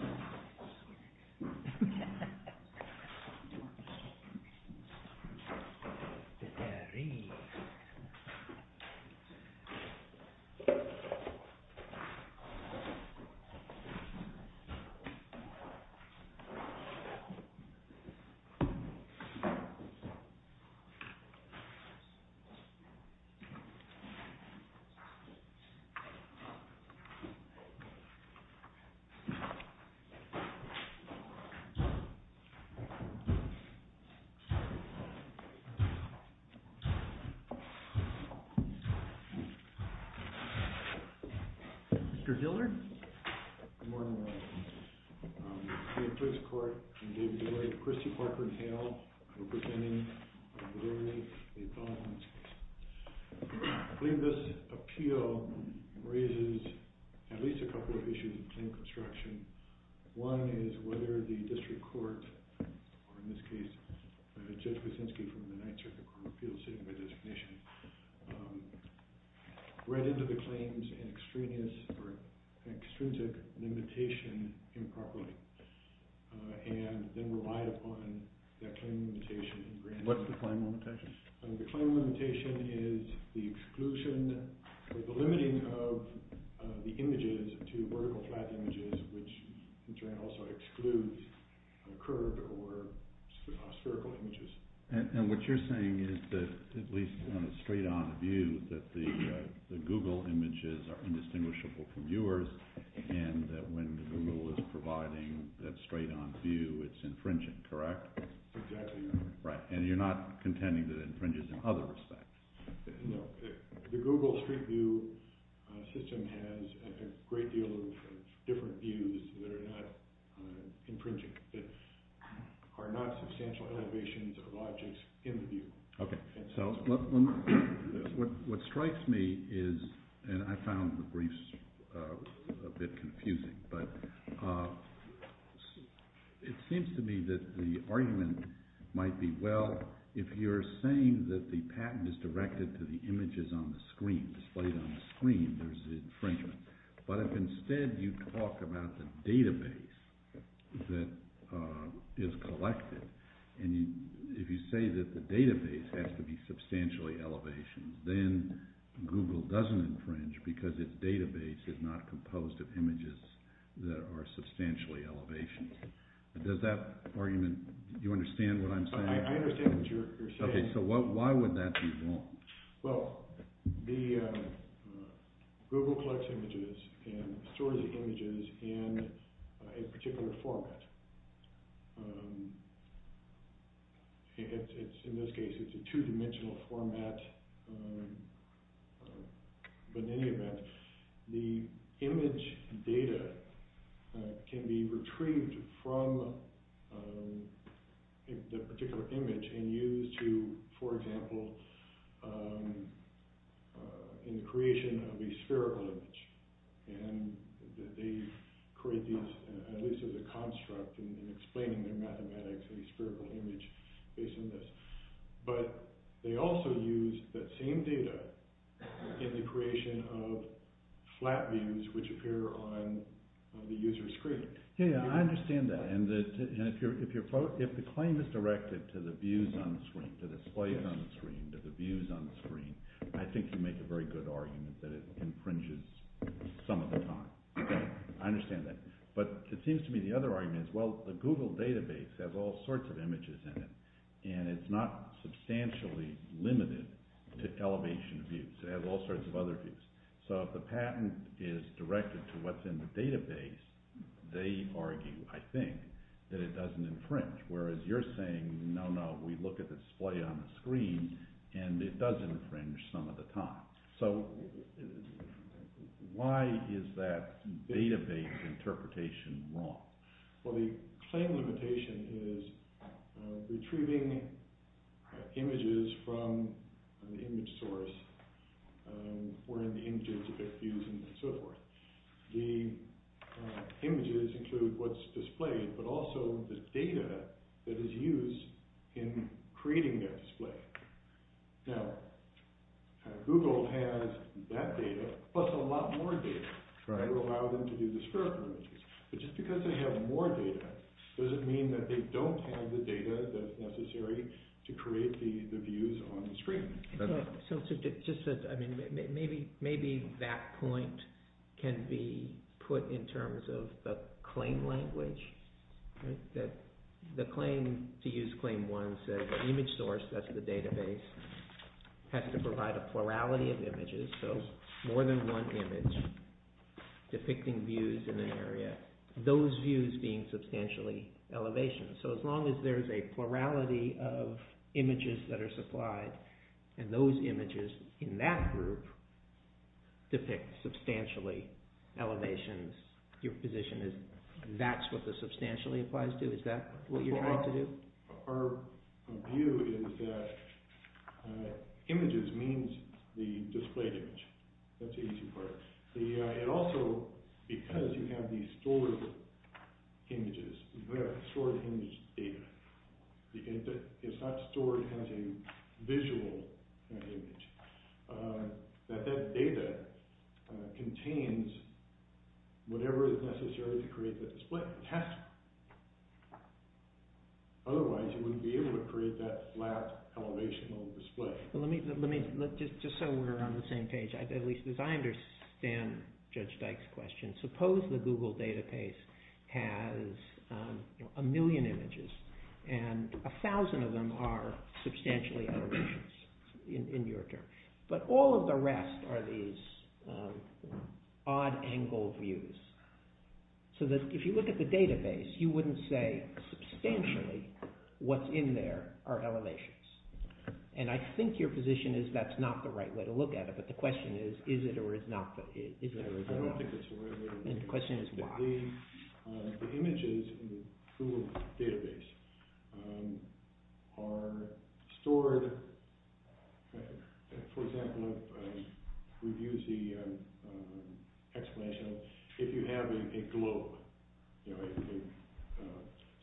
MR. DILLARD, LLC. Good morning, everyone. I'm here in the police court in the name of the Attorney General, Christy Parker-Hale. I'm representing the Blue Ridge, a felon-hunting specimen. I believe this appeal raises at least a couple of issues in claim construction. One is whether the district court, or in this case Judge Wyszynski from the Ninth Circuit Court of Appeals sitting by designation, read into the claims in extraneous or extrinsic limitation improperly and then relied upon that claim limitation. What's the claim limitation? The claim limitation is the exclusion or the limiting of the images to vertical flat images, which in turn also excludes curved or spherical images. And what you're saying is that, at least on a straight-on view, that the Google images are indistinguishable from yours, and that when Google is providing that straight-on view, it's infringing, correct? Exactly, Your Honor. Right, and you're not contending that it infringes in other respects? No. The Google straight-view system has a great deal of different views that are not infringing, that are not substantial elevations of objects in the view. Okay. So what strikes me is, and I found the briefs a bit confusing, but it seems to me that the argument might be, well, if you're saying that the patent is directed to the images on the screen, displayed on the screen, there's infringement. But if instead you talk about the database that is collected, and if you say that the database has to be substantially elevation, then Google doesn't infringe because its database is not composed of images that are substantially elevation. Does that argument, do you understand what I'm saying? I understand what you're saying. Okay, so why would that be wrong? Well, Google collects images and stores the images in a particular format. In this case, it's a two-dimensional format. But in any event, the image data can be retrieved from the particular image and used to, for example, in the creation of a spherical image. And they create these, at least as a construct in explaining their mathematics, a spherical image based on this. But they also use that same data in the creation of flat views which appear on the user's screen. Yeah, I understand that. And if the claim is directed to the views on the screen, to the displays on the screen, to the views on the screen, I think you make a very good argument that it infringes some of the time. I understand that. But it seems to me the other argument is, well, the Google database has all sorts of images in it, and it's not substantially limited to elevation views. It has all sorts of other views. So if the patent is directed to what's in the database, they argue, I think, that it doesn't infringe. Whereas you're saying, no, no, we look at the display on the screen, and it does infringe some of the time. So why is that database interpretation wrong? Well, the claim limitation is retrieving images from an image source wherein the images depict views and so forth. The images include what's displayed, but also the data that is used in creating that display. Now, Google has that data plus a lot more data to allow them to do the spherical images. But just because they have more data doesn't mean that they don't have the data that's necessary to create the views on the screen. So maybe that point can be put in terms of the claim language. The claim to use Claim 1 says an image source, that's the database, has to provide a plurality of images, so more than one image depicting views in an area, those views being substantially elevation. So as long as there's a plurality of images that are supplied, and those images in that group depict substantially elevations, your position is that's what the substantially applies to? Is that what you're trying to do? So our view is that images means the displayed image. That's the easy part. It also, because you have these stored images, you have stored image data, it's not stored as a visual image, that that data contains whatever is necessary to create the display. Otherwise you wouldn't be able to create that flat elevational display. Let me, just so we're on the same page, at least as I understand Judge Dyke's question, suppose the Google database has a million images, and a thousand of them are substantially elevations, in your term. But all of the rest are these odd angle views, so that if you look at the database, you wouldn't say substantially what's in there are elevations. And I think your position is that's not the right way to look at it, but the question is, is it or is it not? I don't think it's the right way to look at it. And the question is why? The images in the Google database are stored, for example, if we use the explanation, if you have a globe, a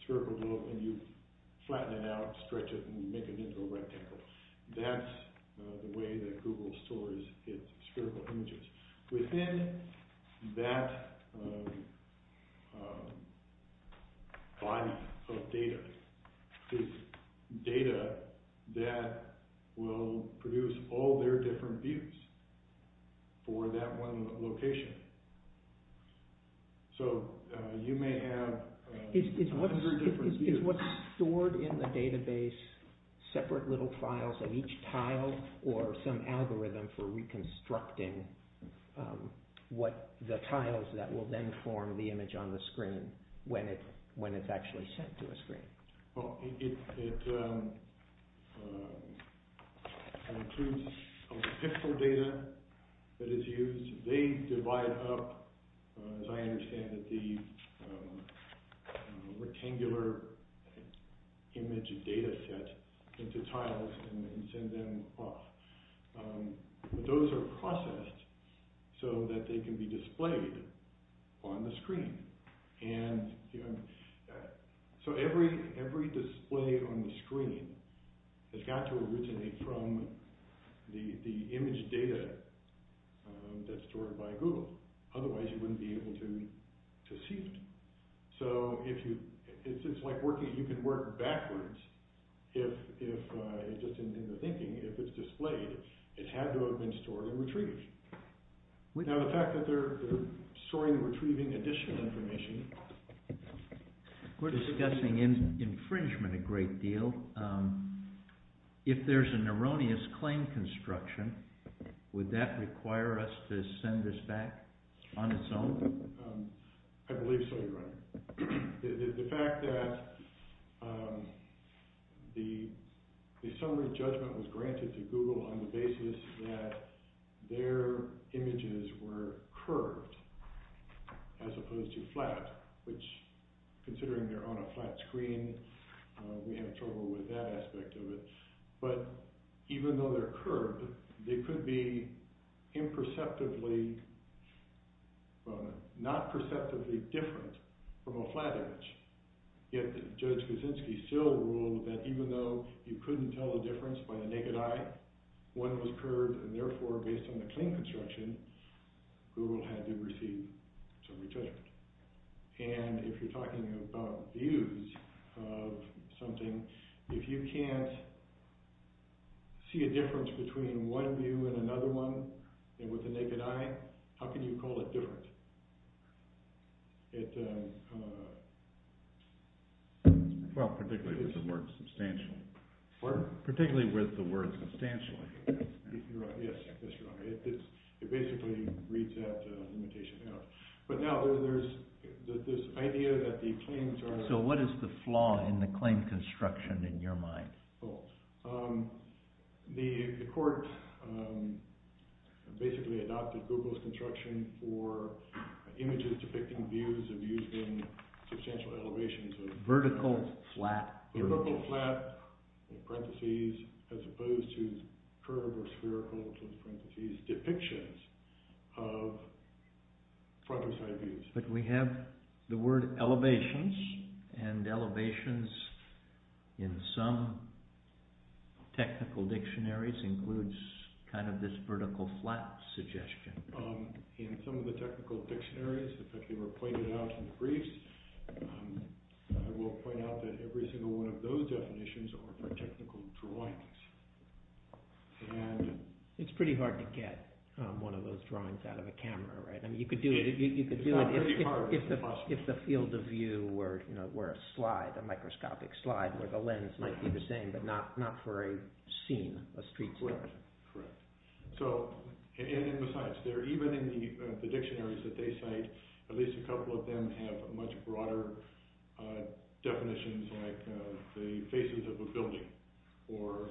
spherical globe, and you flatten it out, stretch it, and make it into a rectangle, that's the way that Google stores its spherical images. Within that file of data is data that will produce all their different views for that one location. So you may have a hundred different views. So is it what's stored in the database, separate little files of each tile, or some algorithm for reconstructing the tiles that will then form the image on the screen when it's actually sent to a screen? Well, it includes pixel data that is used. They divide up, as I understand it, the rectangular image data set into tiles and send them off. Those are processed so that they can be displayed on the screen. So every display on the screen has got to originate from the image data that's stored by Google. Otherwise, you wouldn't be able to see it. So it's like you can work backwards. Just in the thinking, if it's displayed, it had to have been stored and retrieved. Now the fact that they're storing and retrieving additional information... We're discussing infringement a great deal. If there's an erroneous claim construction, would that require us to send this back on its own? I believe so, your Honor. The fact that the summary judgment was granted to Google on the basis that their images were curved as opposed to flat, which, considering they're on a flat screen, we have trouble with that aspect of it. But even though they're curved, they could be imperceptibly, not perceptibly different from a flat image. Yet Judge Kuczynski still ruled that even though you couldn't tell the difference by the naked eye when it was curved, and therefore, based on the claim construction, Google had to receive some retrieval. And if you're talking about views of something, if you can't see a difference between one view and another one with the naked eye, how can you call it different? Well, particularly with the word substantial. What? Particularly with the word substantial. You're right. Yes, that's right. It basically reads that limitation out. But now there's this idea that the claims are... So what is the flaw in the claim construction in your mind? The court basically adopted Google's construction for images depicting views of using substantial elevations. Vertical, flat images. Vertical, flat, in parentheses, as opposed to curved or spherical, in parentheses, depictions of front or side views. But we have the word elevations, and elevations in some technical dictionaries includes kind of this vertical, flat suggestion. In some of the technical dictionaries, in fact, they were pointed out in the briefs. I will point out that every single one of those definitions are for technical drawings. It's pretty hard to get one of those drawings out of a camera, right? You could do it if the field of view were a slide, a microscopic slide, where the lens might be the same, but not for a scene, a street scene. Correct. And besides, even in the dictionaries that they cite, at least a couple of them have much broader definitions, like the faces of a building or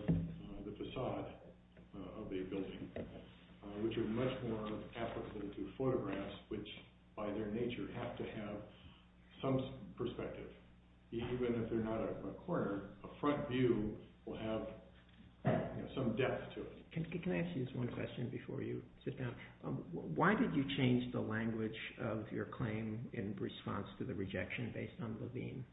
the facade of a building, which are much more applicable to photographs, which by their nature have to have some perspective. Even if they're not a corner, a front view will have some depth to it. Can I ask you this one question before you sit down? Why did you change the language of your claim in response to the rejection based on Levine?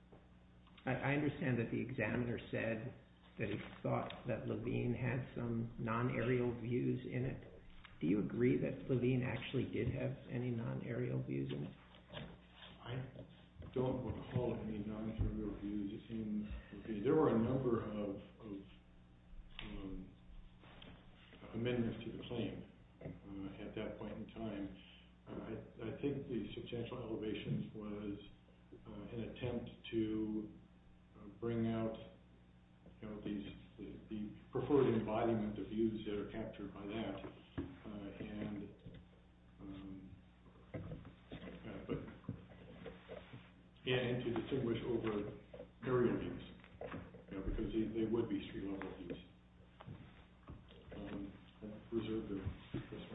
I understand that the examiner said that he thought that Levine had some non-aerial views in it. Do you agree that Levine actually did have any non-aerial views in it? I don't recall any non-aerial views. There were a number of amendments to the claim at that point in time. I think the substantial elevation was an attempt to bring out the preferred embodiment of views that are captured by that, and to distinguish over aerial views, because they would be street-level views.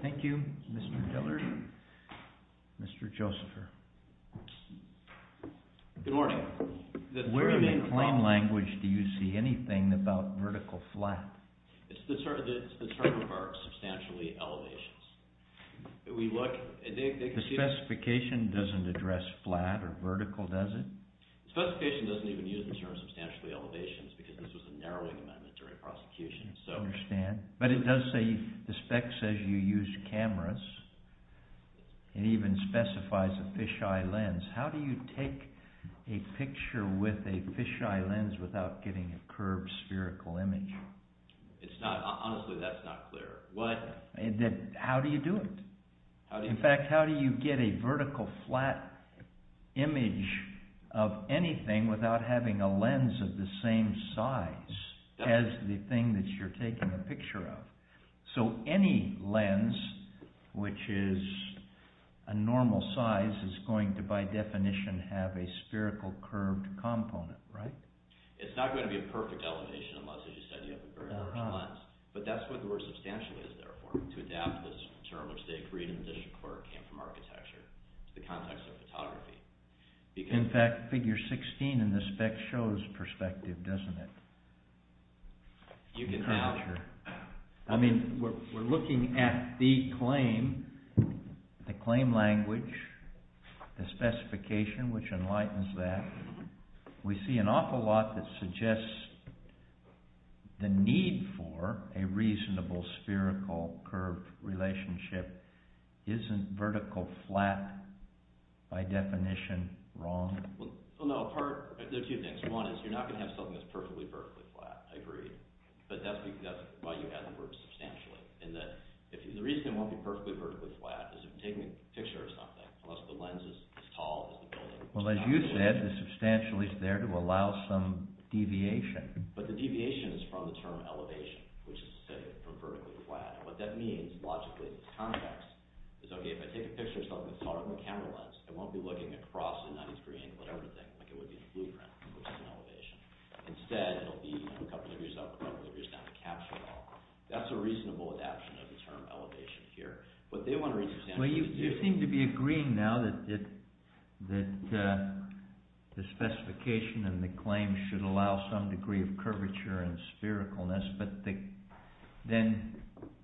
Thank you, Mr. Dillard. Mr. Josepher. Good morning. Where in the claim language do you see anything about vertical flat? It's the term for substantially elevations. The specification doesn't address flat or vertical, does it? The specification doesn't even use the term substantially elevations because this was a narrowing amendment during prosecution. I understand. But it does say, the spec says you used cameras. It even specifies a fisheye lens. How do you take a picture with a fisheye lens without getting a curved spherical image? Honestly, that's not clear. How do you do it? In fact, how do you get a vertical flat image of anything without having a lens of the same size as the thing that you're taking a picture of? So, any lens which is a normal size is going to, by definition, have a spherical curved component, right? It's not going to be a perfect elevation unless, as you said, you have a very large lens. But that's what the word substantially is, therefore, to adapt this term, which they agreed in the district court, came from architecture to the context of photography. In fact, figure 16 in the spec shows perspective, doesn't it? I mean, we're looking at the claim, the claim language, the specification, which enlightens that. We see an awful lot that suggests the need for a reasonable spherical curve relationship isn't vertical flat, by definition, wrong? Well, no. There are two things. One is you're not going to have something that's perfectly vertically flat. I agree. But that's why you have the word substantially. The reason it won't be perfectly vertically flat is if you're taking a picture of something, unless the lens is as tall as the building. Well, as you said, the substantially is there to allow some deviation. But the deviation is from the term elevation, which is to say from vertically flat. What that means, logically, is context. If I take a picture of something that's taller than the camera lens, I won't be looking across at a 90 degree angle at everything, like it would be in a bluegrain, which is an elevation. Instead, it'll be a couple of years up, a couple of years down to capture it all. That's a reasonable adaption of the term elevation here. Well, you seem to be agreeing now that the specification and the claim should allow some degree of curvature and sphericalness. But then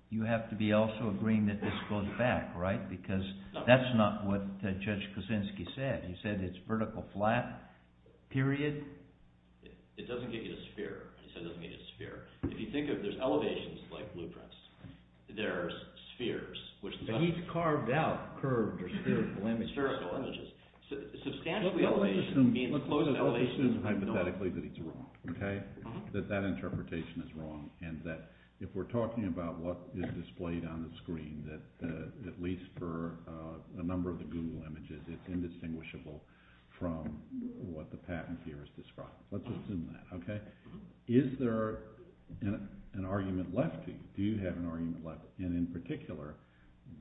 you have to be also agreeing that this goes back, right? Because that's not what Judge Kosinski said. He said it's vertical flat, period. It doesn't get you the sphere. He said it doesn't get you the sphere. If you think of there's elevations like blueprints, there are spheres. But he's carved out curved or spherical images. Spherical images. Substantially elevation means the closest elevation to the north. Let's assume hypothetically that it's wrong, that that interpretation is wrong, and that if we're talking about what is displayed on the screen, that at least for a number of the Google images, it's indistinguishable from what the patent here has described. Let's assume that. Is there an argument left to you? Do you have an argument left? And in particular,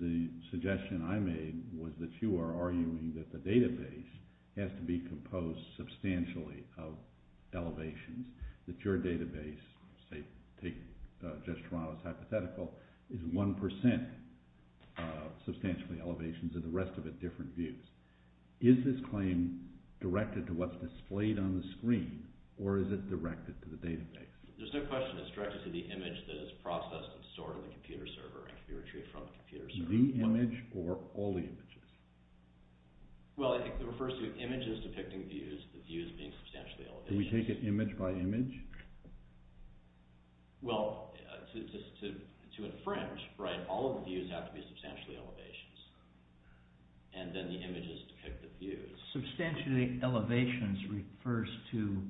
the suggestion I made was that you are arguing that the database has to be composed substantially of elevations, that your database, say, take Judge Toronto's hypothetical, is 1% substantially elevations and the rest of it different views. Is this claim directed to what's displayed on the screen or is it directed to the database? There's no question it's directed to the image that is processed and stored in the computer server and can be retrieved from the computer server. The image or all the images? Well, it refers to images depicting views, the views being substantially elevations. Can we take it image by image? Well, to infringe, all of the views have to be substantially elevations, and then the images depict the views. Substantially elevations refers to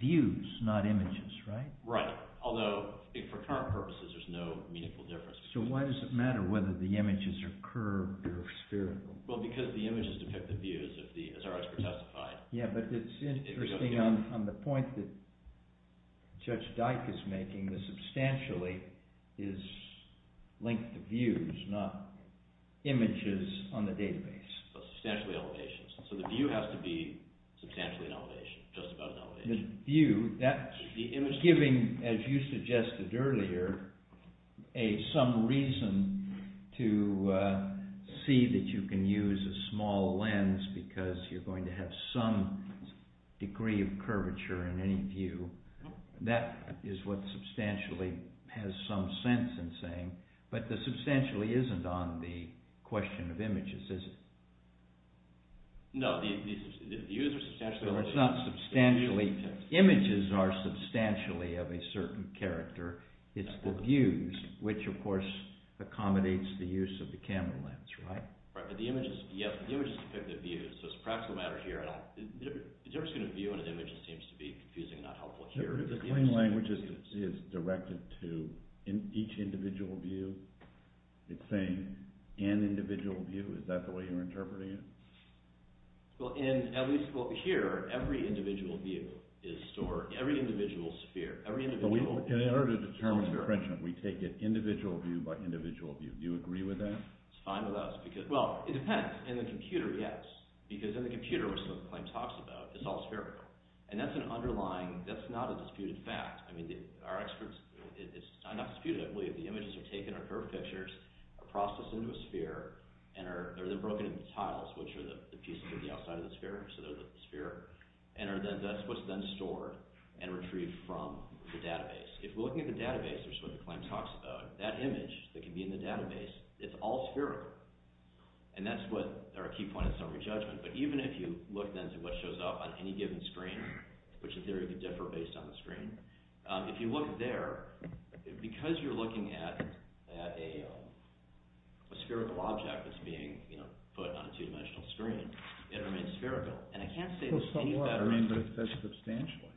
views, not images, right? Right. Although, for current purposes, there's no meaningful difference. So why does it matter whether the images are curved or spherical? Well, because the images depict the views, as our expert testified. Yeah, but it's interesting on the point that Judge Dyke is making that substantially is linked to views, not images on the database. Substantially elevations. So the view has to be substantially an elevation, just about an elevation. Giving, as you suggested earlier, some reason to see that you can use a small lens because you're going to have some degree of curvature in any view. That is what substantially has some sense in saying, but the substantially isn't on the question of images, is it? No, the views are substantially elevations. No, it's not substantially. Images are substantially of a certain character. It's the views, which of course accommodates the use of the camera lens, right? Right, but the images depict the views, so it's a practical matter here. The difference between a view and an image seems to be confusing and not helpful here. The claim language is directed to each individual view. It's saying an individual view. Is that the way you're interpreting it? Well, here, every individual view is stored. Every individual sphere. In order to determine the credential, we take it individual view by individual view. Do you agree with that? It's fine with us. Well, it depends. In the computer, yes, because in the computer, which the claim talks about, it's all spherical. And that's an underlying – that's not a disputed fact. I mean, our experts – it's not disputed, I believe. The images are taken, are curved pictures, are processed into a sphere, and are then broken into tiles, which are the pieces of the outside of the sphere, so they're the sphere, and are then – that's what's then stored and retrieved from the database. If we're looking at the database, which is what the claim talks about, that image that can be in the database, it's all spherical. And that's what – or a key point is summary judgment. But even if you look then to what shows up on any given screen, which in theory could differ based on the screen, if you look there, because you're looking at a spherical object that's being put on a two-dimensional screen, it remains spherical. And I can't say there's any better – I mean, but it says substantially.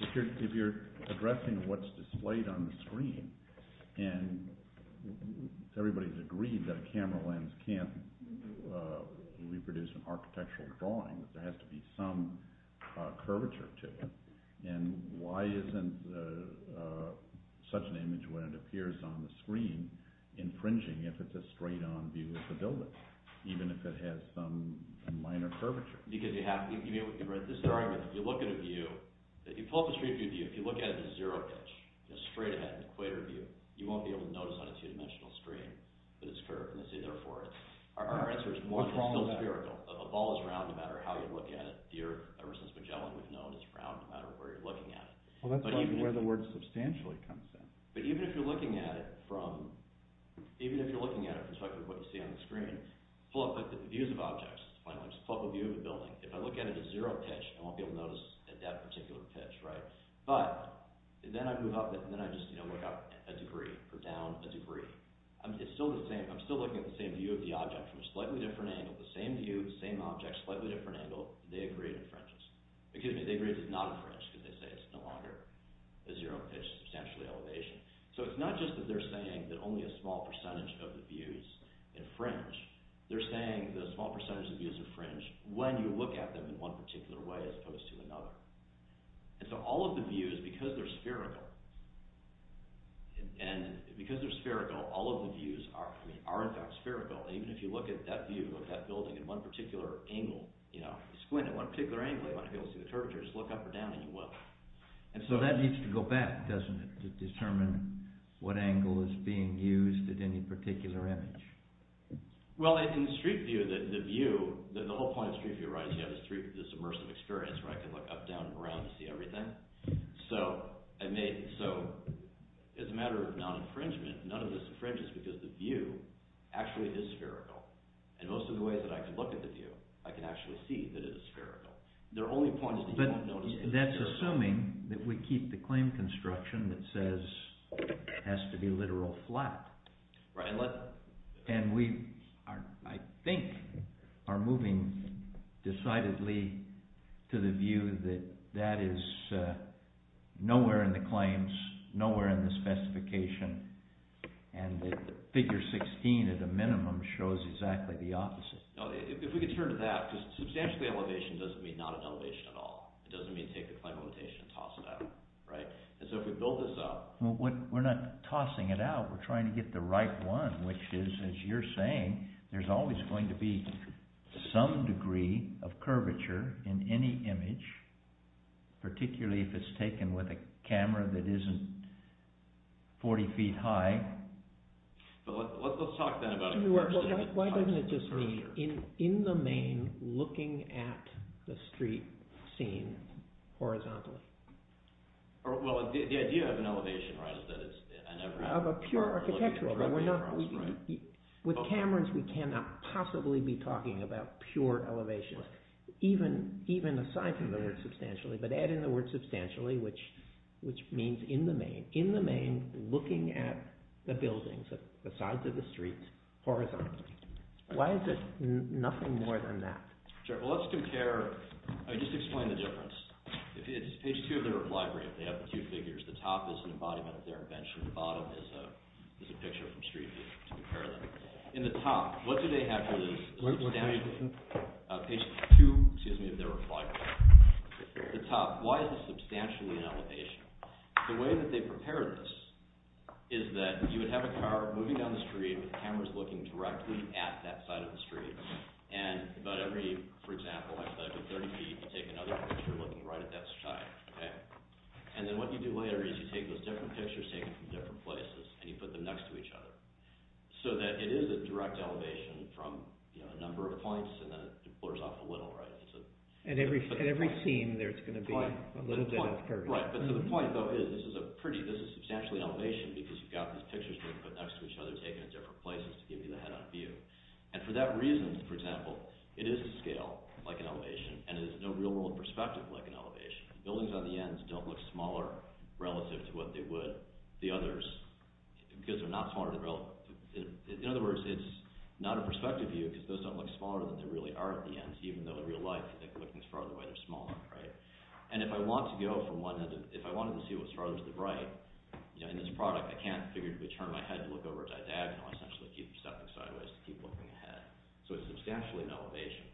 If you're addressing what's displayed on the screen, and everybody's agreed that a camera lens can't reproduce an architectural drawing, there has to be some curvature to it. And why isn't such an image, when it appears on the screen, infringing if it's a straight-on view of the building, even if it has some minor curvature? Because you have – this is the argument. If you look at a view – if you pull up a straight-view view, if you look at it as a zero-pitch, a straight-ahead equator view, you won't be able to notice on a two-dimensional screen that it's curved. Let's say, therefore, our answer is one, it's still spherical. A ball is round no matter how you look at it. Ever since Magellan, we've known it's round no matter where you're looking at it. Well, that's where the word substantially comes in. But even if you're looking at it from – even if you're looking at it from the perspective of what you see on the screen, pull up the views of objects. Pull up a view of a building. If I look at it at zero-pitch, I won't be able to notice at that particular pitch, right? But then I move up and then I just look up a degree or down a degree. It's still the same. I'm still looking at the same view of the object from a slightly different angle, the same view, the same object, slightly different angle. They agree it infringes. Excuse me, they agree it does not infringe because they say it's no longer a zero-pitch, substantially elevation. So it's not just that they're saying that only a small percentage of the views infringe. They're saying the small percentage of views infringe when you look at them in one particular way as opposed to another. And so all of the views, because they're spherical, and because they're spherical, all of the views are in fact spherical. Even if you look at that view of that building in one particular angle, you squint at one particular angle, you won't be able to see the curvature. You just look up or down and you will. And so that needs to go back, doesn't it, to determine what angle is being used at any particular image? Well, in street view, the view, the whole point of street view writing is you have this immersive experience where I can look up, down, and around and see everything. So as a matter of non-infringement, none of this infringes because the view actually is spherical. And most of the ways that I can look at the view, I can actually see that it is spherical. But that's assuming that we keep the claim construction that says it has to be literal flat. And we, I think, are moving decidedly to the view that that is nowhere in the claims, nowhere in the specification, and that figure 16 at a minimum shows exactly the opposite. If we could turn to that, because substantially elevation doesn't mean not an elevation at all. It doesn't mean take the claim limitation and toss it out, right? And so if we build this up… We're not tossing it out. We're trying to get the right one, which is, as you're saying, there's always going to be some degree of curvature in any image, particularly if it's taken with a camera that isn't 40 feet high. But let's talk then about… Why doesn't it just be in the main looking at the street scene horizontally? Well, the idea of an elevation, right, is that it's… Of a pure architectural… The buildings, the sides of the streets, horizontally. Why is it nothing more than that? Sure. Well, let's compare… Just explain the difference. If it's page 2 of their reply brief, they have the two figures. The top is an embodiment of their invention. The bottom is a picture from Street View to compare them. In the top, what do they have for the… Page 2, excuse me, of their reply brief. The top. Why is this substantially an elevation? The way that they prepared this is that you would have a car moving down the street with cameras looking directly at that side of the street. And about every, for example, 30 feet, you take another picture looking right at that side. And then what you do later is you take those different pictures taken from different places and you put them next to each other. So that it is a direct elevation from a number of points and then it blurs off a little, right? At every scene, there's going to be a little bit of curvature. Right, but the point, though, is this is substantially an elevation because you've got these pictures being put next to each other, taken at different places to give you the head-on view. And for that reason, for example, it is a scale, like an elevation, and it is no real-world perspective like an elevation. Buildings on the ends don't look smaller relative to what they would the others because they're not smaller than… In other words, it's not a perspective view because those don't look smaller than they really are at the ends, even though in real life, if they're looking as far away, they're smaller, right? And if I want to go from one end, if I wanted to see what's farther to the right, in this product, I can't figure to turn my head to look over a diagonal. I essentially keep stepping sideways to keep looking ahead. So it's substantially an elevation.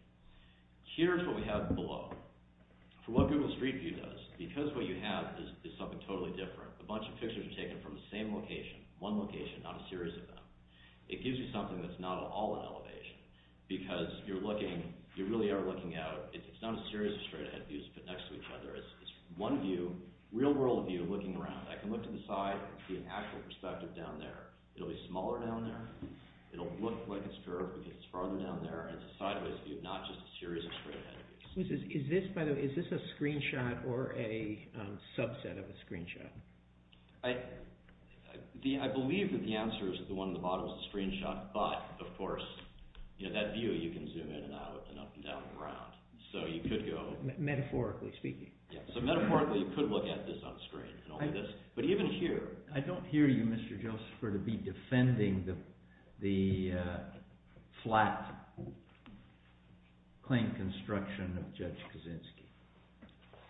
Here's what we have below. For what Google Street View does, because what you have is something totally different, a bunch of pictures are taken from the same location, one location, not a series of them, it gives you something that's not at all an elevation because you're looking, you really are looking out. It's not a series of straight-ahead views next to each other. It's one view, real-world view, looking around. I can look to the side and see an actual perspective down there. It'll be smaller down there. It'll look like it's curved because it's farther down there. It's a sideways view, not just a series of straight-ahead views. Is this, by the way, is this a screenshot or a subset of a screenshot? I believe that the answer is that the one at the bottom is a screenshot, but, of course, that view you can zoom in and out and up and down and around. So you could go... Metaphorically speaking. Yeah, so metaphorically you could look at this on screen and only this, but even here... I don't hear you, Mr. Joseph, for it to be defending the flat plane construction of Judge Kaczynski.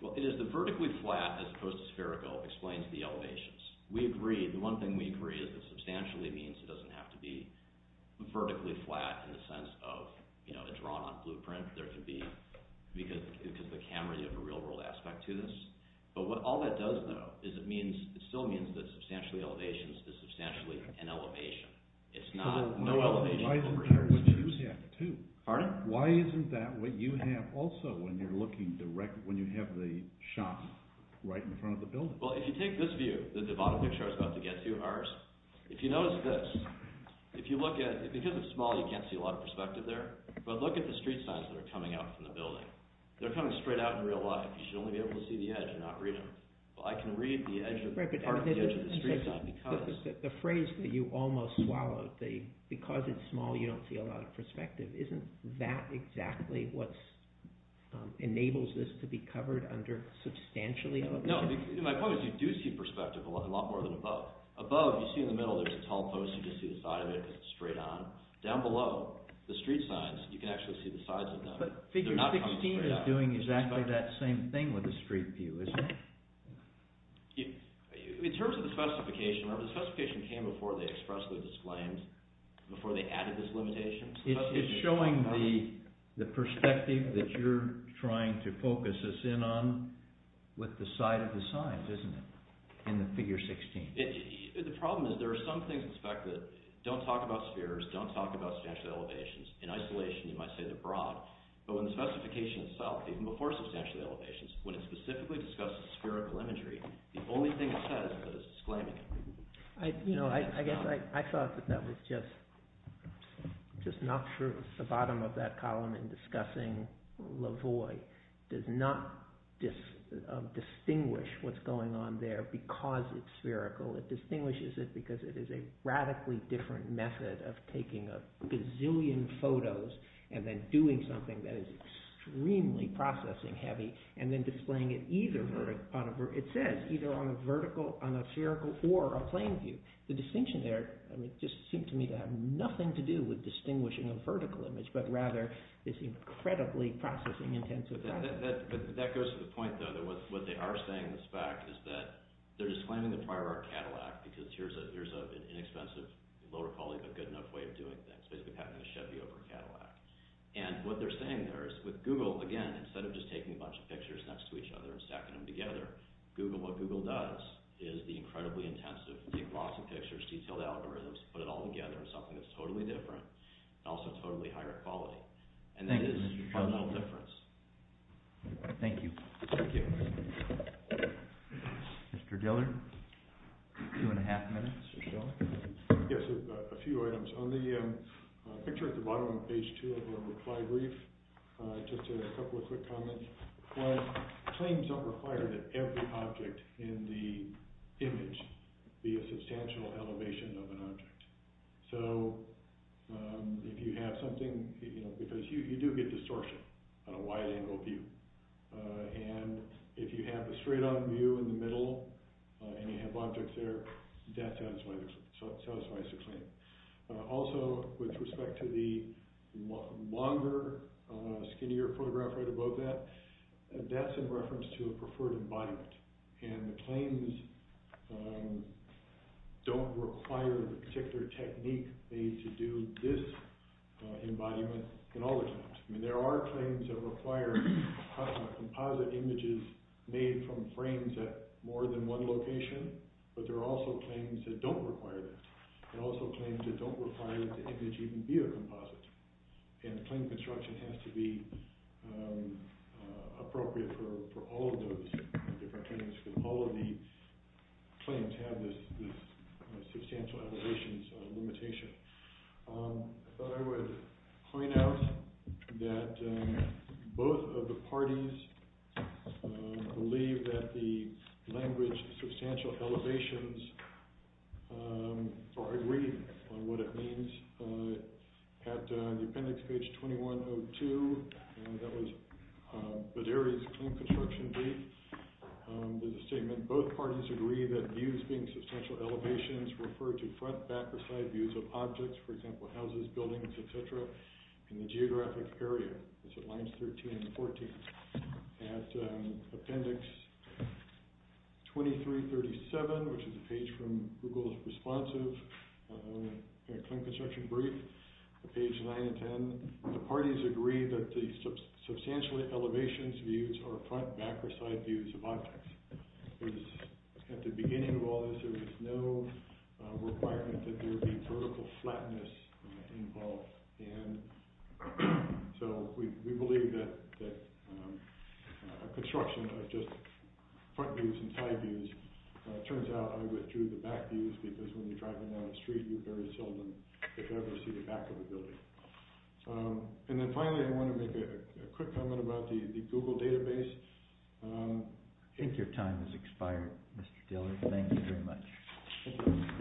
Well, it is the vertically flat as opposed to spherical explains the elevations. We agree. The one thing we agree is that substantially means it doesn't have to be vertically flat in the sense of a drawn-on blueprint. There could be... Because the camera, you have a real-world aspect to this. But what all that does, though, is it means... It still means that substantially elevations is substantially an elevation. Why isn't that what you have, too? Pardon? When you have the shop right in front of the building. Well, if you take this view, the bottom picture I was about to get to, ours, if you notice this, if you look at... Because it's small, you can't see a lot of perspective there. But look at the street signs that are coming out from the building. They're coming straight out in real life. You should only be able to see the edge and not read them. I can read part of the edge of the street sign because... No, my point is you do see perspective a lot more than above. Above, you see in the middle, there's a tall post. You just see the side of it because it's straight on. Down below, the street signs, you can actually see the sides of them. But figure 16 is doing exactly that same thing with the street view, isn't it? In terms of the specification, remember, the specification came before they expressly disclaimed, before they added this limitation. It's showing the perspective that you're trying to focus us in on with the side of the signs, isn't it, in the figure 16? The problem is there are some things, in fact, that don't talk about spheres, don't talk about substantial elevations. In isolation, you might say they're broad. But when the specification itself, even before substantial elevations, when it specifically discusses spherical imagery, the only thing it says is that it's disclaiming. I guess I thought that that was just not true. The bottom of that column in discussing Lavoie does not distinguish what's going on there because it's spherical. It distinguishes it because it is a radically different method of taking a gazillion photos and then doing something that is extremely processing heavy and then displaying it either, it says, either on a spherical or a plane view. The distinction there just seemed to me to have nothing to do with distinguishing a vertical image, but rather is incredibly processing intensive. But that goes to the point, though, that what they are saying in this fact is that they're disclaiming the prior art Cadillac because here's an inexpensive, lower quality, but good enough way of doing things, basically having a Chevy over a Cadillac. And what they're saying there is with Google, again, instead of just taking a bunch of pictures next to each other and stacking them together, what Google does is the incredibly intensive, take lots of pictures, detailed algorithms, put it all together in something that's totally different, and also totally higher quality. And that is fundamental difference. Thank you. Thank you. Mr. Diller, two and a half minutes. Yes, a few items. On the picture at the bottom of page two of your reply brief, just a couple of quick comments. Claims don't require that every object in the image be a substantial elevation of an object. So if you have something, you know, because you do get distortion on a wide-angle view. And if you have a straight-on view in the middle and you have objects there, that satisfies the claim. Also, with respect to the longer, skinnier photograph right above that, that's in reference to a preferred embodiment. And the claims don't require the particular technique they need to do this embodiment and all those things. I mean, there are claims that require composite images made from frames at more than one location, but there are also claims that don't require that, and also claims that don't require that the image even be a composite. And the claim construction has to be appropriate for all of those different things, because all of the claims have this substantial elevations limitation. I thought I would point out that both of the parties believe that the language substantial elevations, or agree on what it means. At the appendix, page 2102, that was Baderi's claim construction brief, there's a statement, and both parties agree that views being substantial elevations refer to front, back, or side views of objects, for example, houses, buildings, etc., in the geographic area. It's at lines 13 and 14. At appendix 2337, which is a page from Google's responsive claim construction brief, page 9 and 10, the parties agree that the substantial elevations views are front, back, or side views of objects. At the beginning of all this, there was no requirement that there be vertical flatness involved, and so we believe that a construction of just front views and side views, it turns out I withdrew the back views because when you're driving down the street, you very seldom, if ever, see the back of the building. And then finally, I want to make a quick comment about the Google database. I think your time has expired, Mr. Diller. Thank you very much.